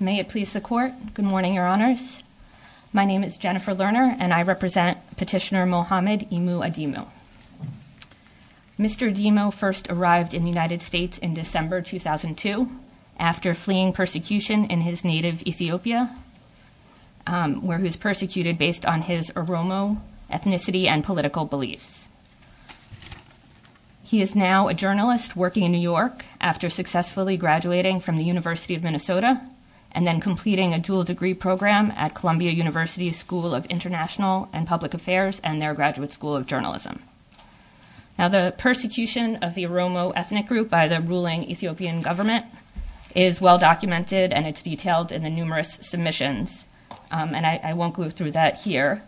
May it please the Court. Good morning, Your Honors. My name is Jennifer Lerner, and I represent Petitioner Mohamed Emu Ademo. Mr. Ademo first arrived in the United States in December 2002 after fleeing persecution in his native Ethiopia, where he was persecuted based on his Oromo ethnicity and political beliefs. He is now a journalist working in the University of Minnesota, and then completing a dual degree program at Columbia University's School of International and Public Affairs and their Graduate School of Journalism. Now, the persecution of the Oromo ethnic group by the ruling Ethiopian government is well-documented, and it's detailed in the numerous submissions. And I won't go through that here,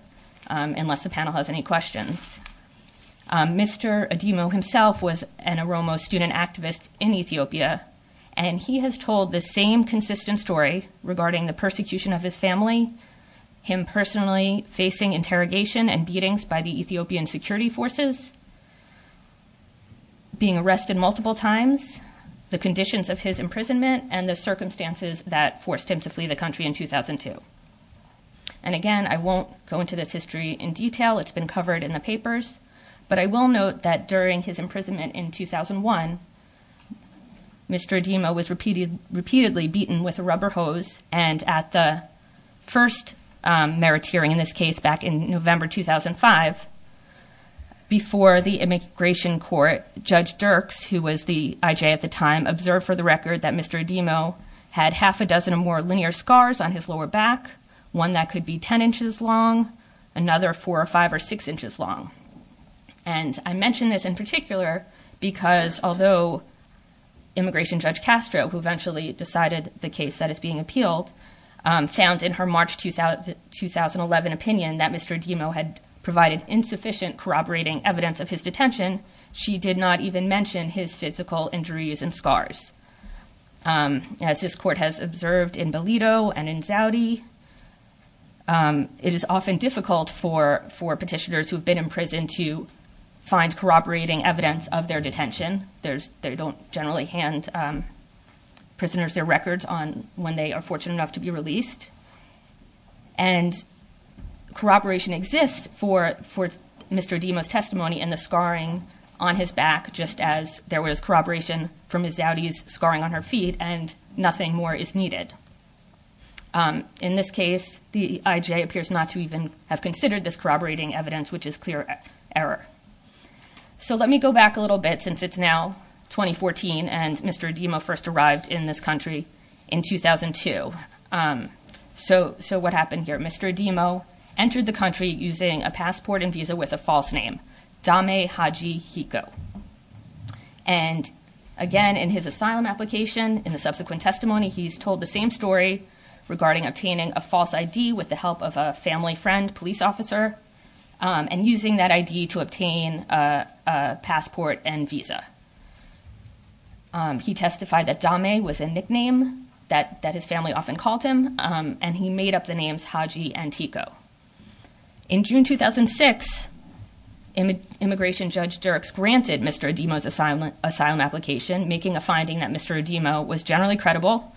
unless the panel has any questions. Mr. Ademo himself was an Oromo student activist in Ethiopia, and he has told the same consistent story regarding the persecution of his family, him personally facing interrogation and beatings by the Ethiopian security forces, being arrested multiple times, the conditions of his imprisonment, and the circumstances that forced him to flee the country in 2002. And again, I won't go into this history in detail. It's been covered in the papers, but I will note that during his imprisonment in 2001, Mr. Ademo was repeatedly beaten with a rubber hose. And at the first meritorium in this case back in November 2005, before the immigration court, Judge Dirks, who was the IJ at the time, observed for the record that Mr. Ademo had half a dozen or more linear scars on his lower back, one that could be 10 inches long, another four or five or six inches long. And I mentioned this in particular, because although immigration Judge Castro, who eventually decided the case that is being appealed, found in her March 2011 opinion that Mr. Ademo had provided insufficient corroborating evidence of his detention, she did not even mention his physical injuries and scars. As this court has observed in Belido and for petitioners who have been in prison to find corroborating evidence of their detention. They don't generally hand prisoners their records on when they are fortunate enough to be released. And corroboration exists for Mr. Ademo's testimony and the scarring on his back, just as there was corroboration from his Zaudis scarring on her feet, and nothing more is needed. In this case, the IJ appears not to even have considered this corroborating evidence, which is clear error. So let me go back a little bit, since it's now 2014 and Mr. Ademo first arrived in this country in 2002. So what happened here? Mr. Ademo entered the country using a passport and visa with a false name, Dame Haji Hiko. And again, in his asylum application, in the subsequent testimony, he's told the same story regarding obtaining a false ID with the help of a family friend, police officer, and using that ID to obtain a passport and visa. He testified that Dame was a nickname that his family often called him, and he made up the names Haji and Hiko. In June 2006, Immigration Judge Dirks granted Mr. Ademo's asylum application, making a finding that Mr. Ademo was legally credible,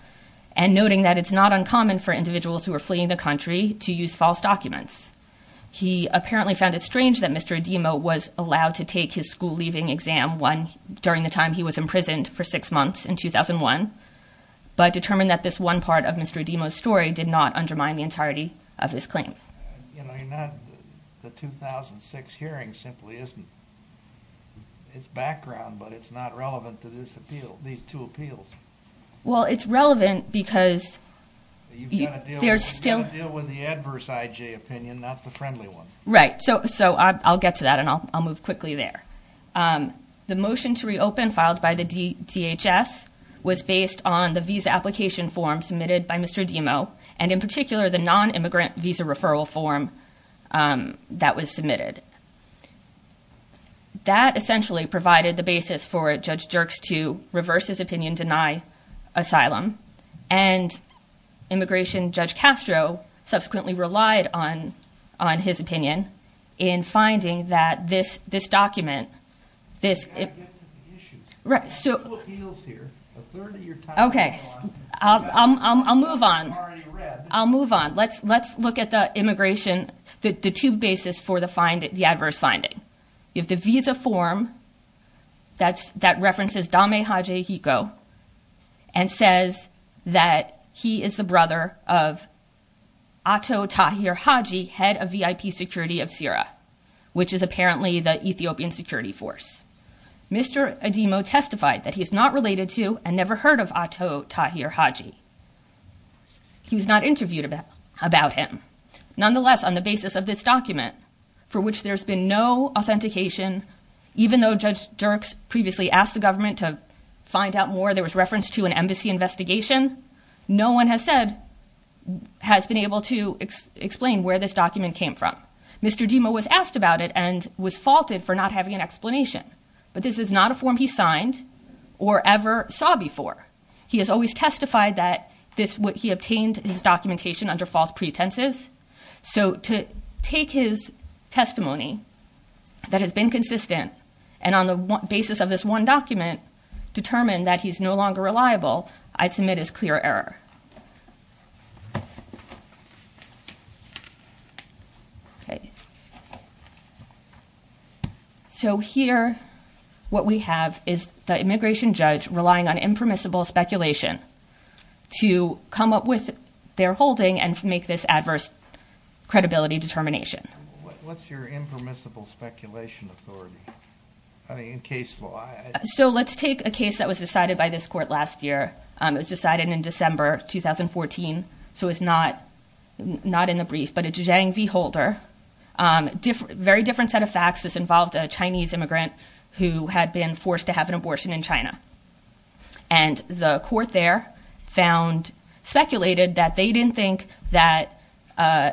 and noting that it's not uncommon for individuals who are fleeing the country to use false documents. He apparently found it strange that Mr. Ademo was allowed to take his school-leaving exam during the time he was imprisoned for six months in 2001, but determined that this one part of Mr. Ademo's story did not undermine the entirety of his claim. You know, the 2006 hearing simply isn't its background, but it's not relevant to these appeals. Well, it's relevant because there's still... You've got to deal with the adverse IJ opinion, not the friendly one. Right, so I'll get to that, and I'll move quickly there. The motion to reopen filed by the DHS was based on the visa application form submitted by Mr. Ademo, and in particular, the non-immigrant visa referral form that was submitted. That essentially provided the basis for Judge Dirks to reverse his opinion, deny asylum, and Immigration Judge Castro subsequently relied on his opinion in finding that this document... Okay, I'll move on. I'll move on. Let's look at the immigration, the two bases for the adverse finding. If the visa form that references Dame Haji Hiko and says that he is the brother of Ato Tahir Haji, head of VIP security of CIRA, which is apparently the Ethiopian security force, Mr. Ademo testified that he is not related to and never heard of Ato Tahir Haji. He was not interviewed about him. Nonetheless, on the basis of this document, for which there's been no authentication, even though Judge Dirks previously asked the government to find out more, there was reference to an embassy investigation, no one has been able to explain where this document came from. Mr. Ademo was asked about it and was faulted for not having an explanation, but this is not a form he signed or ever saw before. He has always testified that he obtained his documentation under false pretenses, so to take his testimony that has been consistent and on the basis of this one document, determine that he's no longer reliable, I'd submit as clear error. Okay. So here, what we have is the immigration judge relying on impermissible speculation to come up with their holding and make this adverse credibility determination. What's your impermissible speculation authority? I mean, in case law. So let's take a case that was decided by this court last year. It was decided in December 2014, so it's not in the brief, but a Zhang v. Holder, very different set of facts, this involved a Chinese immigrant who had been forced to have an abortion in China. And the court there found, speculated that they didn't think that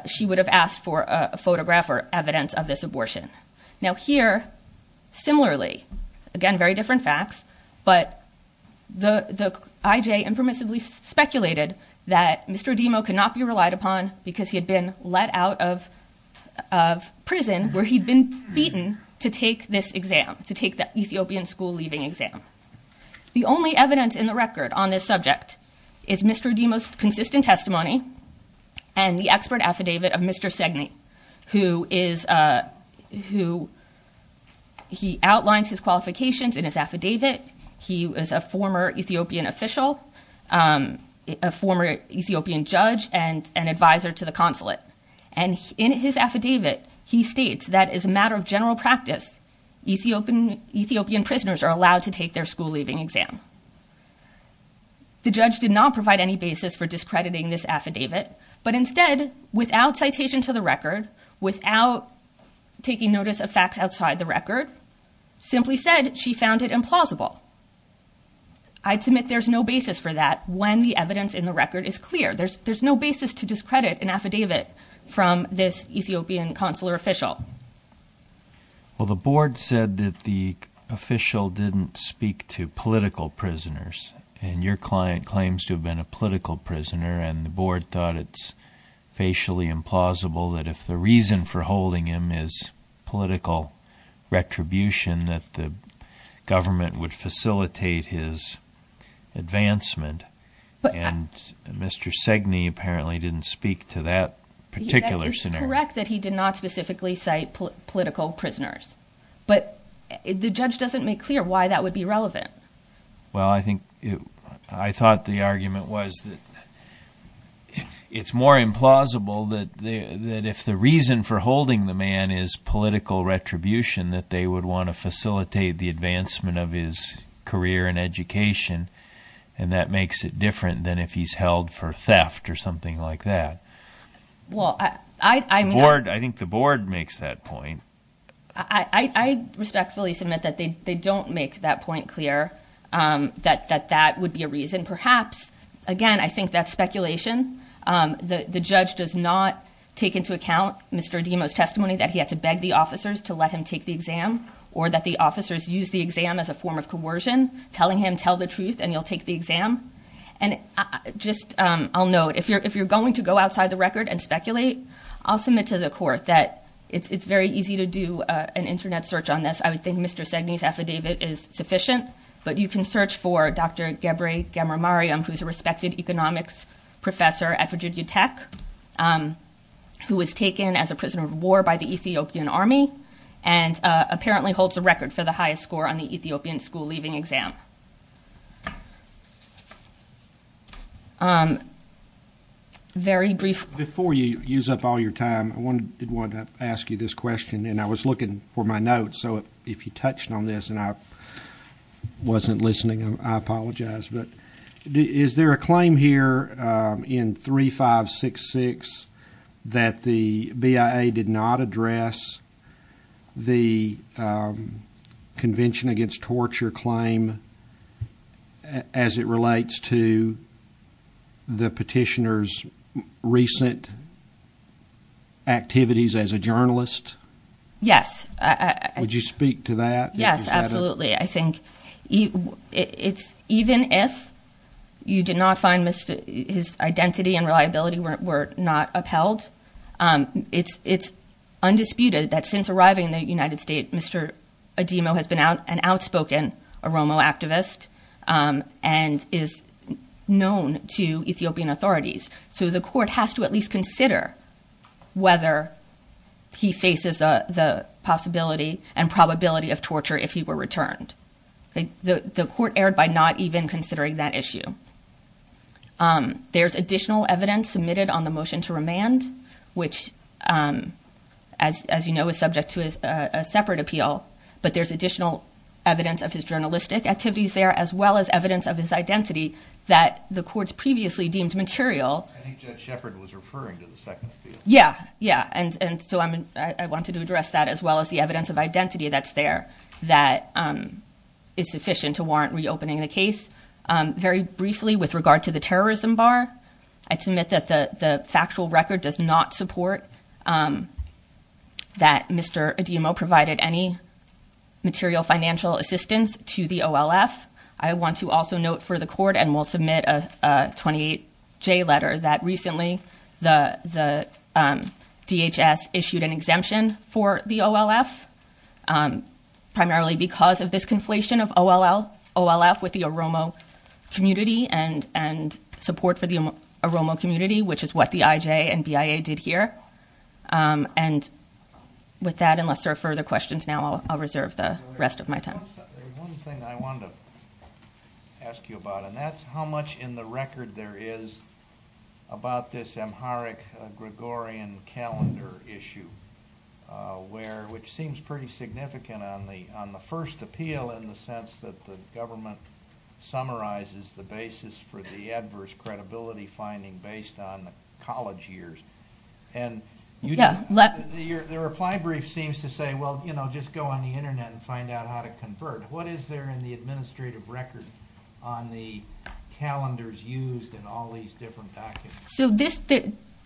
she would have asked for a photograph or evidence of this abortion. Now here, similarly, again, very different facts, but the IJ impermissibly speculated that Mr. Ademo could not be relied upon because he had been let out of prison where he'd been beaten to take this exam, to take the Ethiopian school exam. The only evidence in the record on this subject is Mr. Ademo's consistent testimony and the expert affidavit of Mr. Segne, who outlines his qualifications in his affidavit. He was a former Ethiopian official, a former Ethiopian judge and an advisor to the consulate. And in his affidavit, he states that as a matter of general practice, Ethiopian prisoners are allowed to take their school-leaving exam. The judge did not provide any basis for discrediting this affidavit, but instead, without citation to the record, without taking notice of facts outside the record, simply said she found it implausible. I'd submit there's no basis for that when the evidence in the record is clear. There's no basis to discredit an affidavit from this Ethiopian consular official. Well, the board said that the official didn't speak to political prisoners, and your client claims to have been a political prisoner, and the board thought it's facially implausible that if the reason for holding him is political retribution, that the government would facilitate his advancement. And Mr. Segne apparently didn't speak to that particular scenario. It's correct that he did not specifically cite political prisoners, but the judge doesn't make clear why that would be relevant. Well, I thought the argument was that it's more implausible that if the reason for holding the man is political retribution, that they would want to facilitate the advancement of his career and education, and that makes it different than if he's held for theft or something like that. Well, I think the board makes that point. I respectfully submit that they don't make that point clear, that that would be a reason. Perhaps, again, I think that's speculation. The judge does not take into account Mr. Adimo's testimony that he had to beg the officers to let him take the exam, or that the officers used the exam as a form of coercion, telling him, the truth, and you'll take the exam. And just I'll note, if you're going to go outside the record and speculate, I'll submit to the court that it's very easy to do an internet search on this. I would think Mr. Segne's affidavit is sufficient, but you can search for Dr. Gebre Gamer Mariam, who's a respected economics professor at Virginia Tech, who was taken as a prisoner of war by the Ethiopian army, and apparently holds a record for the highest school leaving exam. Very brief. Before you use up all your time, I did want to ask you this question, and I was looking for my notes, so if you touched on this and I wasn't listening, I apologize. But is there a claim here in 3566 that the BIA did not address the Convention Against Torture claim as it relates to the petitioner's recent activities as a journalist? Yes. Would you speak to that? Yes, absolutely. I think even if you did not find his identity and reliability were not upheld, it's undisputed that since arriving in the United States, Mr. Adimo has been an outspoken Oromo activist and is known to Ethiopian authorities. So the court has to at least consider whether he faces the possibility and probability of torture if he were returned. The court erred by not even considering that issue. There's additional evidence submitted on the motion to remand, which as you know, is subject to a separate appeal. But there's additional evidence of his journalistic activities there, as well as evidence of his identity that the court's previously deemed material. I think Judge Shepard was referring to the second appeal. Yeah, yeah. And so I wanted to address that as well as the evidence of identity that's there that is sufficient to warrant reopening the case. Very briefly, with regard to the factual record does not support that Mr. Adimo provided any material financial assistance to the OLF, I want to also note for the court and will submit a 28J letter that recently the DHS issued an exemption for the OLF, primarily because of this conflation of OLF with the Oromo community and support for the Oromo community, which is what the IJ and BIA did here. And with that, unless there are further questions now, I'll reserve the rest of my time. One thing I wanted to ask you about, and that's how much in the record there is about this Amharic Gregorian calendar issue, which seems pretty significant on the first appeal in the sense that the government summarizes the basis for the adverse credibility finding based on college years. And the reply brief seems to say, well, you know, just go on the internet and find out how to convert. What is there in the administrative record on the calendars used in all these different documents? So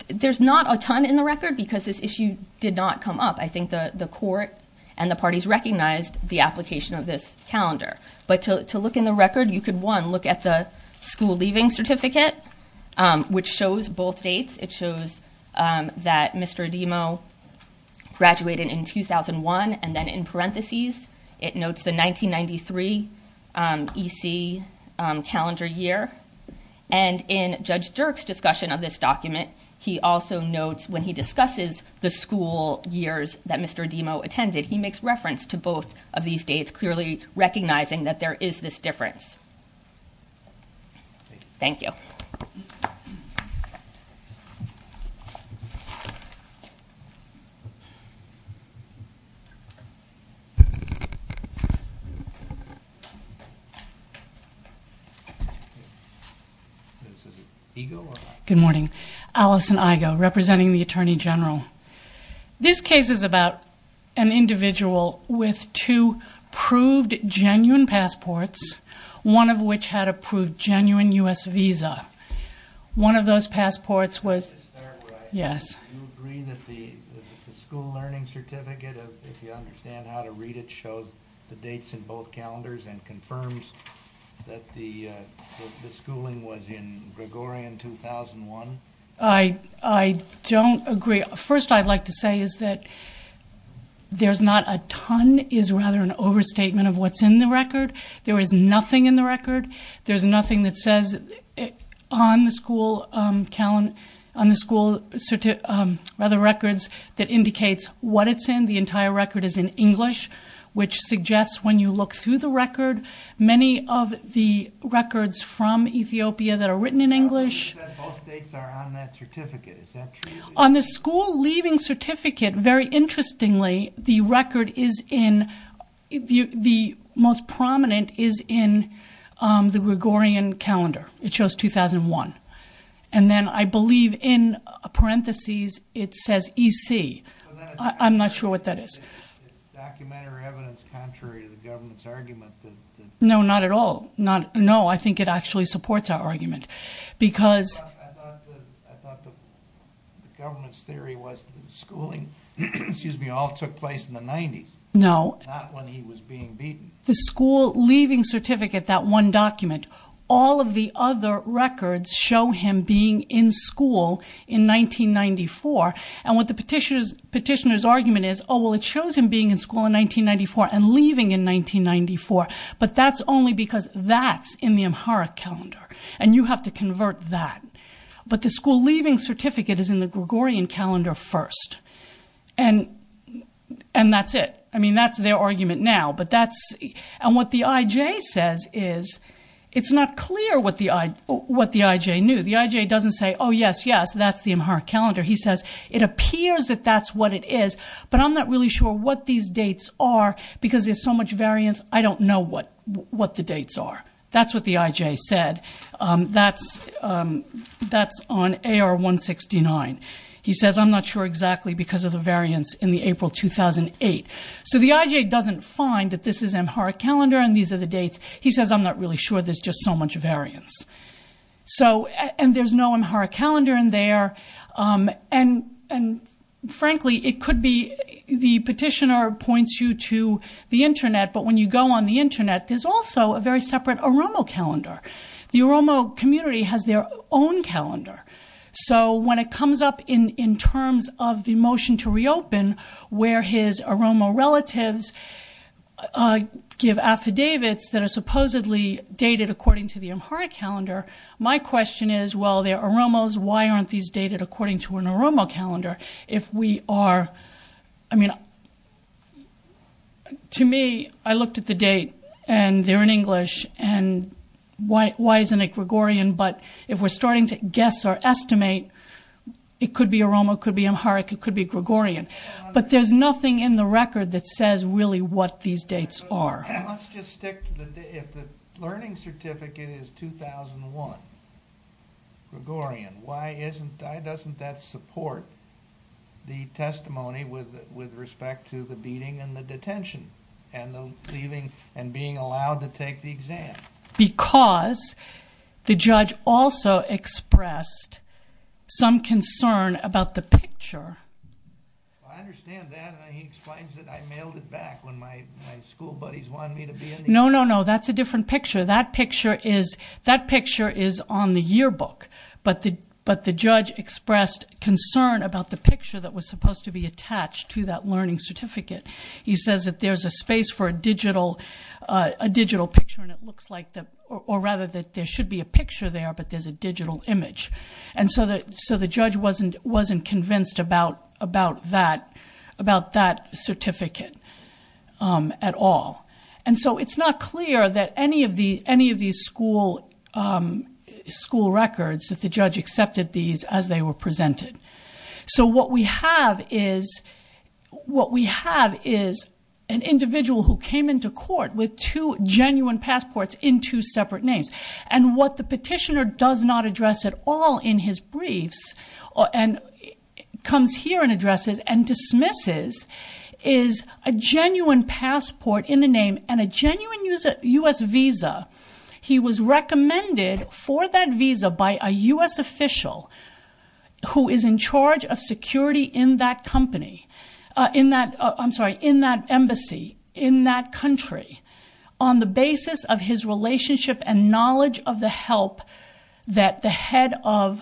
there's not a ton in the record because this issue did not come up. I think the court and the parties recognized the application of this calendar. But to look in the record, you could, one, look at the school leaving certificate, which shows both dates. It shows that Mr. Adimo graduated in 2001. And then in parentheses, it notes the 1993 EC calendar year. And in Judge Dirk's discussion of this document, he also notes when he discusses the school years that Mr. Adimo attended, he makes reference to both of these dates, clearly recognizing that there is this difference. Thank you. Okay. Good morning. Alison Igo, representing the Attorney General. This case is about an individual with two proved genuine passports, one of which had a proved genuine U.S. visa. One of those passports was... Let me start right. Yes. Do you agree that the school learning certificate, if you understand how to read it, shows the dates in both calendars and confirms that the schooling was in Gregorian 2001? I don't agree. First, I'd like to say is that there's not a ton, is rather an overstatement of what's in the record. There is nothing in the record. There's nothing that says on the school records that indicates what it's in. The entire record is in English, which suggests when you look through the record, many of the records from Ethiopia that are written in English... Both dates are on that certificate. Is that true? On the school leaving certificate, very interestingly, the record is in... The most prominent is in the Gregorian calendar. It shows 2001. And then I believe in parentheses, it says EC. I'm not sure what that is. Is this documentary evidence contrary to the government's argument that... No, not at all. No, I think it actually supports our argument because... I thought the government's theory was schooling, excuse me, all took place in the 90s. No. Not when he was being beaten. The school leaving certificate, that one document, all of the other records show him being in school in 1994. And what the petitioner's argument is, oh, well, it shows him being in school in 1994 and leaving in 1994. But that's only because that's in the Amharic calendar, and you have to convert that. But the school leaving certificate is in the Gregorian calendar first. And that's it. I mean, that's their argument now. And what the IJ says is, it's not clear what the IJ knew. The IJ doesn't say, oh, yes, yes, that's the Amharic calendar. He says, it appears that that's what it is. But I'm not really sure what these dates are because there's so much variance. I don't know what the dates are. That's what the IJ said. That's on AR-169. He says, I'm not sure exactly because of the variance in the April 2008. So the IJ doesn't find that this is Amharic calendar and these are the dates. He says, I'm not really sure. There's just so much variance. So and there's no Amharic calendar in there. And frankly, it could be the petitioner points you to the internet. But when you go on the internet, there's also a very separate AROMO calendar. The AROMO community has their own calendar. So when it comes up in terms of the motion to reopen, where his AROMO relatives give affidavits that are supposedly dated according to the Amharic calendar, my question is, well, they're AROMOs. Why aren't these dated according to an AROMO calendar? If we are, I mean, to me, I looked at the date and they're in English. And why isn't it Gregorian? But if we're starting to guess or estimate, it could be AROMO, could be Amharic, it could be Gregorian. But there's nothing in the record that says really what these dates are. And let's just stick to the, if the learning certificate is 2001 Gregorian, why isn't, doesn't that support the testimony with respect to the beating and the detention and the leaving and being allowed to take the exam? Because the judge also expressed some concern about the picture. Well, I understand that. And he explains that I mailed it back when my school buddies wanted me to be in there. No, no, no. That's a different picture. That picture is, that picture is on the yearbook. But the, but the judge expressed concern about the picture that was supposed to be attached to that learning certificate. He says that there's a space for a digital, a digital picture and it looks like the, or rather that there should be a picture there, but there's a digital image. And so the, so the judge wasn't, wasn't convinced about, about that, about that certificate at all. And so it's not clear that any of the, any of these school, school records that the judge accepted these as they were presented. So what we have is, what we have is an individual who came into court with two genuine passports in two separate names. And what the petitioner does not address at all in his briefs and comes here and addresses and dismisses is a genuine passport in the name and a genuine US visa. He was recommended for that visa by a US official who is in charge of security in that company, in that, I'm sorry, in that embassy, in that country, on the basis of his relationship and knowledge of the help that the head of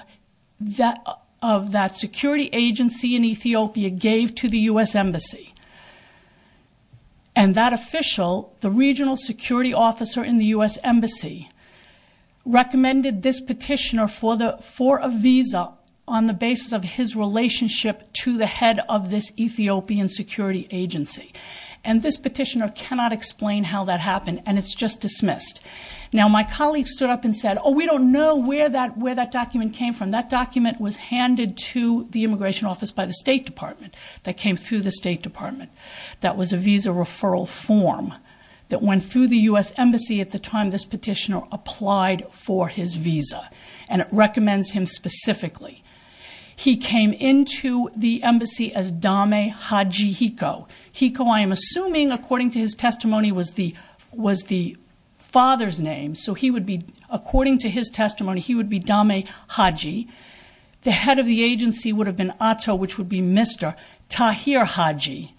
that, of that security agency in Ethiopia gave to the US embassy. And that official, the regional security officer in the US embassy, recommended this petitioner for the, for a visa on the basis of his relationship to the head of this Ethiopian security agency. And this petitioner cannot explain how that happened and it's just dismissed. Now my colleague stood up and said, oh, we don't know where that, where that document came from. That document was handed to the immigration office by the state department that came through the state department. That was a visa referral form that went through the US embassy at the time this petitioner applied for his visa. And it recommends him specifically. He came into the embassy as Dame Haji Hiko. Hiko, I am assuming according to his testimony, was the, was the father's name. So he would be, according to his testimony, he would be Dame Haji. The head of the agency would have been Atto, which would be Mr. Tahir Haji.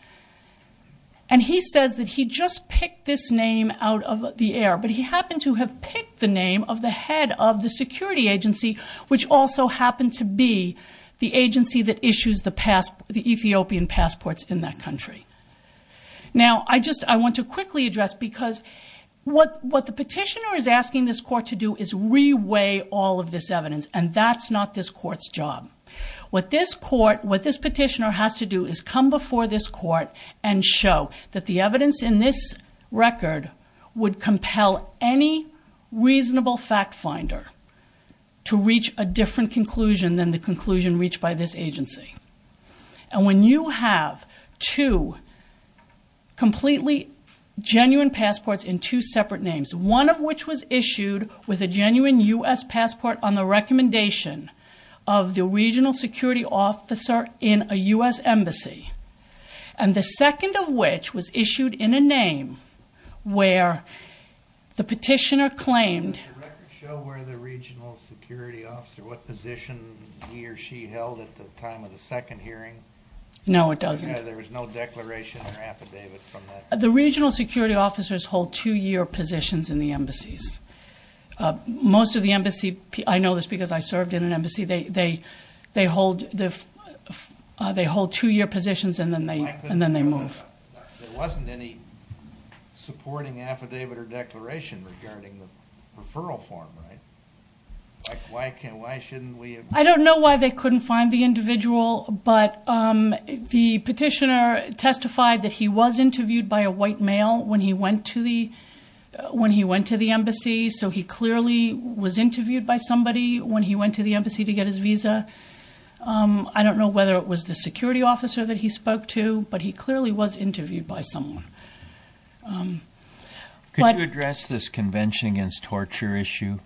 And he says that he just picked this name out of the air, but he happened to have picked the name of the head of the security agency, which also happened to be the agency that issues the pass, the Ethiopian passports in that country. Now I just, I want to quickly address because what, what the petitioner is asking this court to do is reweigh all of this evidence. And that's not this court's job. What this court, what this petitioner has to do is come before this court and show that the evidence in this record would compel any reasonable fact finder to reach a different conclusion than the conclusion reached by this agency. And when you have two completely genuine passports in two with a genuine U.S. passport on the recommendation of the regional security officer in a U.S. embassy and the second of which was issued in a name where the petitioner claimed. Does the record show where the regional security officer, what position he or she held at the time of the second hearing? No, it doesn't. There was no declaration or affidavit from that. The regional security officers hold two-year positions in the embassies. Most of the embassy, I know this because I served in an embassy, they, they, they hold the, they hold two-year positions and then they, and then they move. There wasn't any supporting affidavit or declaration regarding the referral form, right? Like why can't, why shouldn't we have? I don't know why they couldn't find the individual, but the petitioner testified that he was interviewed by a white male when he went to the, when he went to the embassy. So he clearly was interviewed by somebody when he went to the embassy to get his visa. I don't know whether it was the security officer that he spoke to, but he clearly was interviewed by someone. Could you address this convention against torture issue?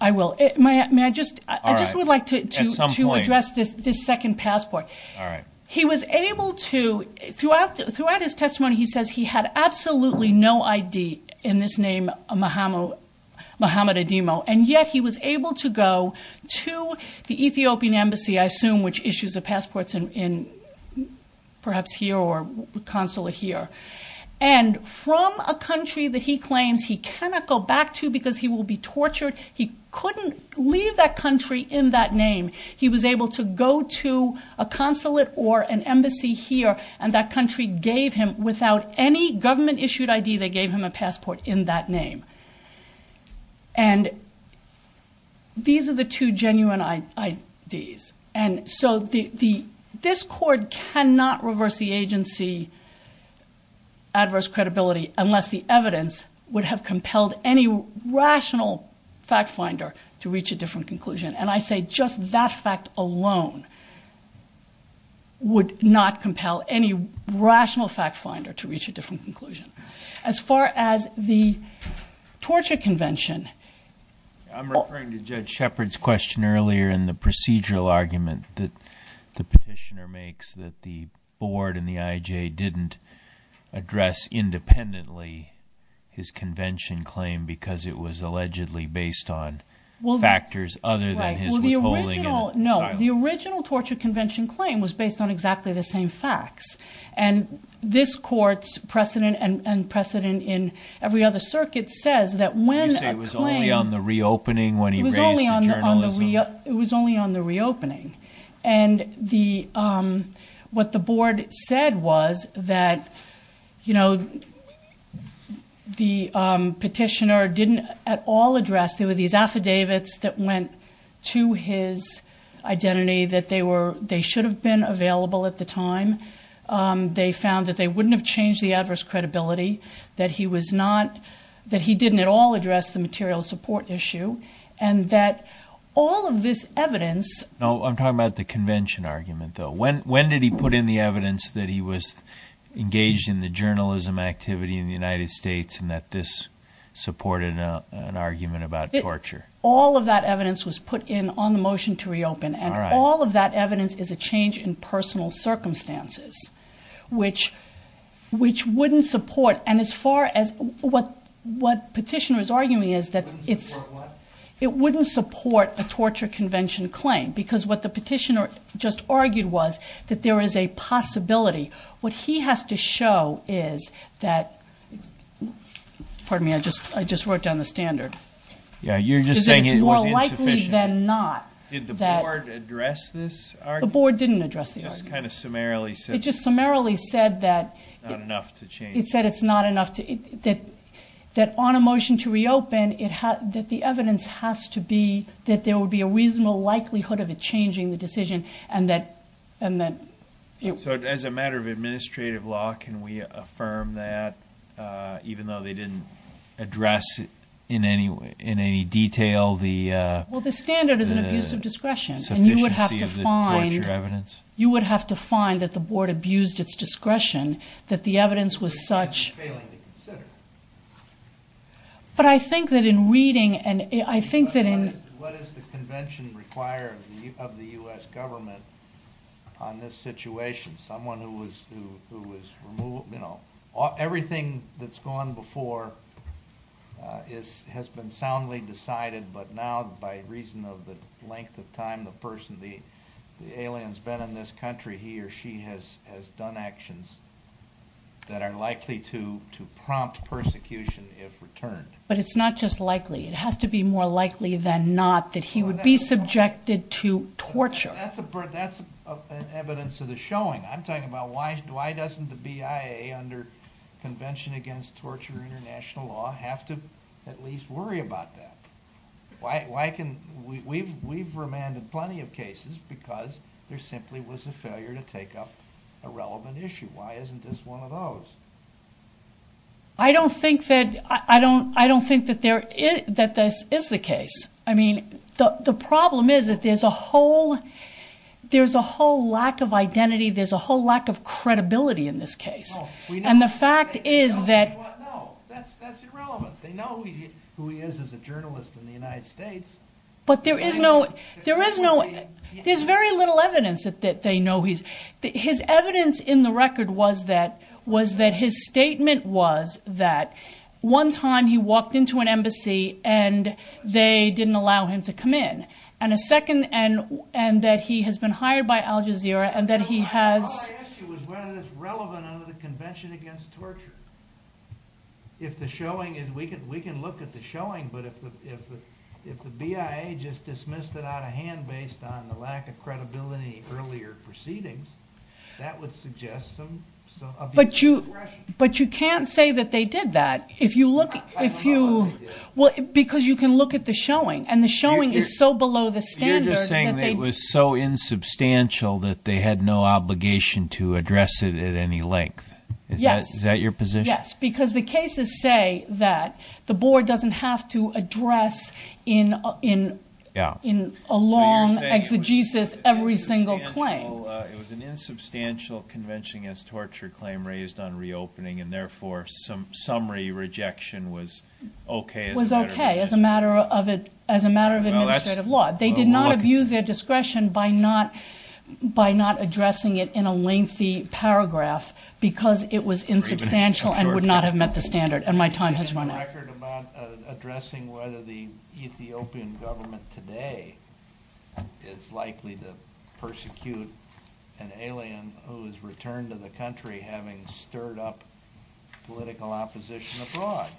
I will. May I, may I just, I just would like to, to, to address this, this second passport. All right. He was able to, throughout, throughout his testimony, he says he had absolutely no ID in this name, Mohamed, Mohamed Adimo. And yet he was able to go to the Ethiopian embassy, I assume, which issues the passports in, in perhaps here or consular here. And from a country that he claims he cannot go back to because he will be tortured. He couldn't leave that country in that name. He was able to go to a consulate or an embassy here, and that country gave him, without any government issued ID, they gave him a passport in that name. And these are the two genuine IDs. And so the, the, this court cannot reverse the agency of the adverse credibility unless the evidence would have compelled any rational fact finder to reach a different conclusion. And I say just that fact alone would not compel any rational fact finder to reach a different conclusion. As far as the torture convention. I'm referring to Judge Shepard's question earlier in the procedural argument that the petitioner makes that the board and the IJ didn't address independently his convention claim because it was allegedly based on factors other than his withholding and asylum. No, the original torture convention claim was based on exactly the same facts. And this court's precedent and precedent in every other circuit says that when a claim... You say it was only on the reopening when he raised the journalism? It was only on the reopening. And the, what the board said was that, you know, the petitioner didn't at all address, there were these affidavits that went to his identity that they were, they should have been available at the time. They found that they wouldn't have changed the adverse credibility, that he was not, that he didn't at all address the material support issue and that all of this evidence... No, I'm talking about the convention argument though. When did he put in the evidence that he was engaged in the journalism activity in the United States and that this supported an argument about torture? All of that evidence was put in on the motion to reopen. And all of that evidence is a change in personal circumstances, which wouldn't support. And as far as what petitioner is arguing is that it wouldn't support a torture convention claim because what the petitioner just argued was that there is a possibility. What he has to show is that, pardon me, I just wrote down the standard. Yeah, you're just saying it was insufficient. It's more likely than not that... Did the board address this argument? The board didn't address the argument. It just kind of summarily said... It just summarily said that... It's not enough to change... It said it's not enough to... That on a motion to reopen, that the evidence has to be that there would be a reasonable likelihood of it changing the decision and that... So as a matter of administrative law, can we affirm that even though they didn't address in any detail the... Well, the standard is an abuse of discretion. Sufficiency of the torture evidence? You would have to find that the board abused its discretion, that the evidence was such... It's failing to consider. But I think that in reading and I think that in... What is the convention required of the US government on this situation? Someone who was removed... Everything that's gone before has been soundly decided, but now by reason of the person, the alien's been in this country, he or she has done actions that are likely to prompt persecution if returned. But it's not just likely. It has to be more likely than not that he would be subjected to torture. That's an evidence of the showing. I'm talking about why doesn't the BIA under Convention Against Torture International Law have to at least worry about that? Why can't... We've remanded plenty of cases because there simply was a failure to take up a relevant issue. Why isn't this one of those? I don't think that this is the case. I mean, the problem is that there's a whole lack of identity. There's a whole lack of credibility in this case. And the fact is that... But there is no... There's very little evidence that they know he's... His evidence in the record was that his statement was that one time he walked into an embassy and they didn't allow him to come in. And a second... And that he has been hired by Al Jazeera and that he has... All I asked you was whether it's relevant under the Convention Against Torture. If the showing is... We can look at the showing, but if the BIA just dismissed it out of hand based on the lack of credibility in earlier proceedings, that would suggest some... But you can't say that they did that. If you look... Because you can look at the showing. And the showing is so below the standard... You're just saying that it was so insubstantial that they had no obligation to address it at any length. Is that your position? Yes. Because the cases say that the board doesn't have to address in a long exegesis every single claim. It was an insubstantial Convention Against Torture claim raised on reopening and therefore some summary rejection was okay as a matter of... Was okay as a matter of administrative law. They did not abuse their discretion by not addressing it in a lengthy paragraph because it was insubstantial and would not have met the standard and my time has run out. There's a record about addressing whether the Ethiopian government today is likely to persecute an alien who has returned to the country having stirred up political opposition abroad.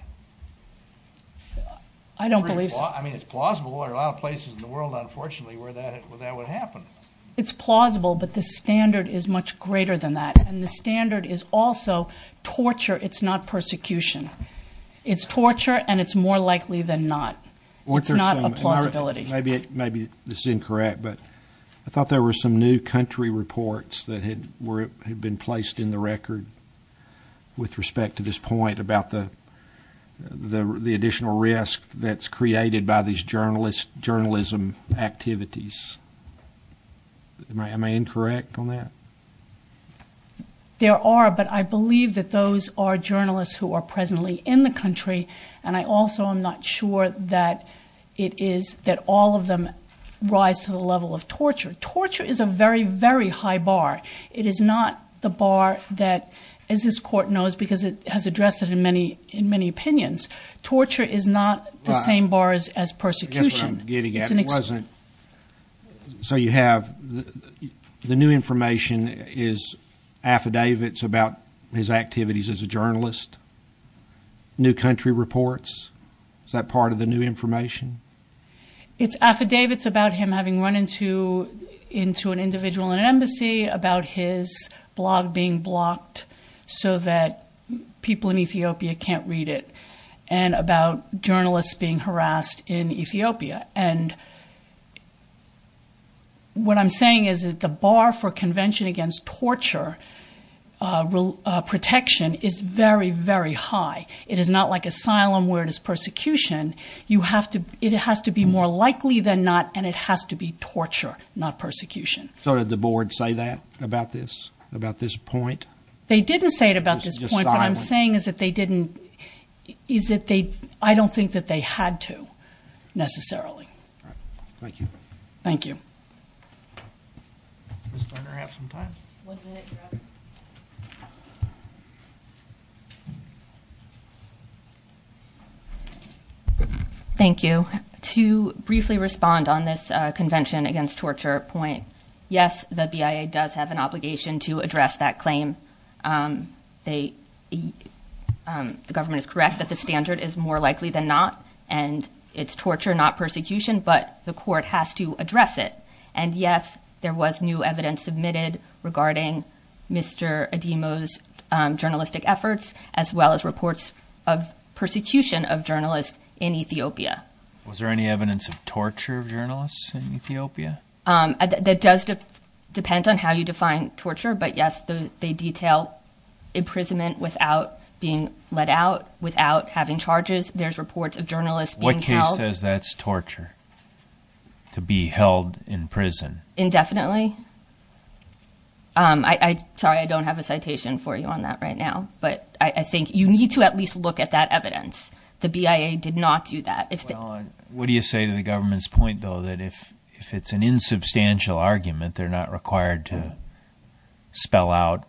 I don't believe so. I mean, it's plausible. There are a lot of places in the world, unfortunately, where that would happen. It's plausible, but the standard is much greater than that and the standard is also torture. It's not persecution. It's torture and it's more likely than not. It's not a plausibility. Maybe this is incorrect, but I thought there were some new country reports that had been placed in the record with respect to this point about the additional risk that's created by these journalism activities. Am I incorrect on that? There are, but I believe that those are journalists who are presently in the country and I also am not sure that it is that all of them rise to the level of torture. Torture is a very, very high bar. It is not the bar that, as this court knows because it has addressed it in many opinions, torture is not the same bars as persecution. That's what I'm getting at. The new information is affidavits about his activities as a journalist, new country reports. Is that part of the new information? It's affidavits about him having run into an individual in an embassy, about his blog being and what I'm saying is that the bar for convention against torture protection is very, very high. It is not like asylum where it is persecution. You have to, it has to be more likely than not and it has to be torture, not persecution. So did the board say that about this, about this point? They didn't say it about this point, but I'm saying is that they didn't, is that they, I don't think that they had to necessarily. Thank you. Thank you. Thank you. To briefly respond on this convention against torture point. Yes, the BIA does have an obligation to address that claim. Um, they, um, the government is correct that the standard is more likely than not and it's torture, not persecution, but the court has to address it. And yes, there was new evidence submitted regarding Mr. Adimo's journalistic efforts as well as reports of persecution of journalists in Ethiopia. Was there any evidence of torture of journalists in Ethiopia? Um, that does depend on how you define torture, but yes, they detail imprisonment without being let out, without having charges. There's reports of journalists being held. What case says that's torture? To be held in prison. Indefinitely. Um, I, I, sorry, I don't have a citation for you on that right now, but I think you need to at least look at that evidence. The BIA did not do that. What do you say to the government's point though, that if, if it's an insubstantial argument, they're not required to spell out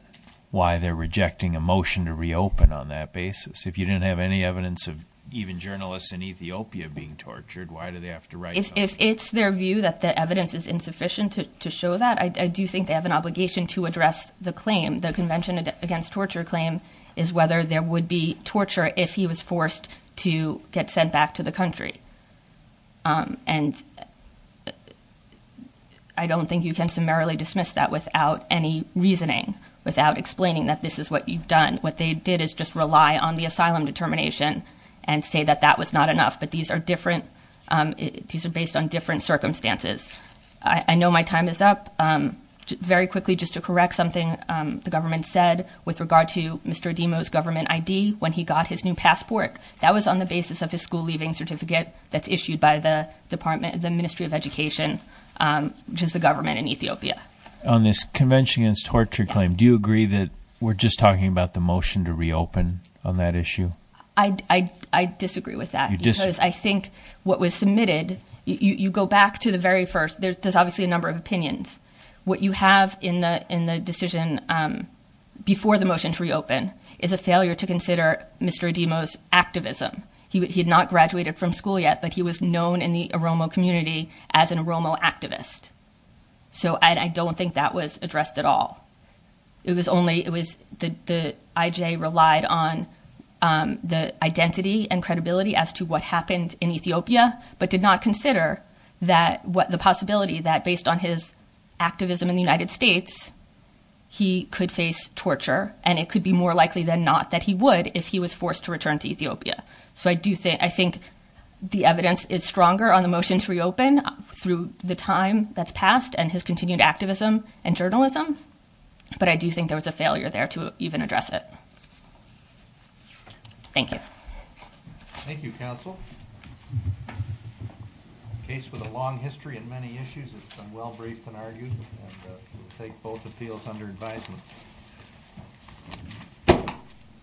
why they're rejecting a motion to reopen on that basis. If you didn't have any evidence of even journalists in Ethiopia being tortured, why do they have to write? If it's their view that the evidence is insufficient to show that, I do think they have an obligation to address the claim. The convention against torture claim is whether there would be torture if he was forced to get sent back to the country. Um, and I don't think you can summarily dismiss that without any reasoning, without explaining that this is what you've done. What they did is just rely on the asylum determination and say that that was not enough, but these are different. Um, these are based on different circumstances. I know my time is up, um, very quickly, just to correct something. Um, the government said with regard to Mr. Demo's government ID, when he got his new passport, that was on the basis of his school leaving certificate that's issued by the department, the ministry of education, um, which is the government in Ethiopia. On this convention against torture claim, do you agree that we're just talking about the motion to reopen on that issue? I, I, I disagree with that because I think what was submitted, you go back to the very first, there's obviously a number of opinions. What you have in the, in the decision, um, before the motion to reopen is a failure to consider Mr. Demo's activism. He, he had not graduated from school yet, but he was known in the Aromo community as an Aromo activist. So I don't think that was addressed at all. It was only, it was the, the IJ relied on, um, the identity and credibility as to what happened in Ethiopia, but did not consider that what, the possibility that based on his activism in the United States, he could face torture. And it could be more likely than not that he would if he was forced to return to Ethiopia. So I do think, I think the evidence is stronger on the motion to reopen through the time that's passed and his continued activism and journalism. But I do think there was a failure there to even address it. Thank you. Thank you, counsel. A case with a long history and many issues. It's been well briefed and argued and we'll take both appeals under advisement.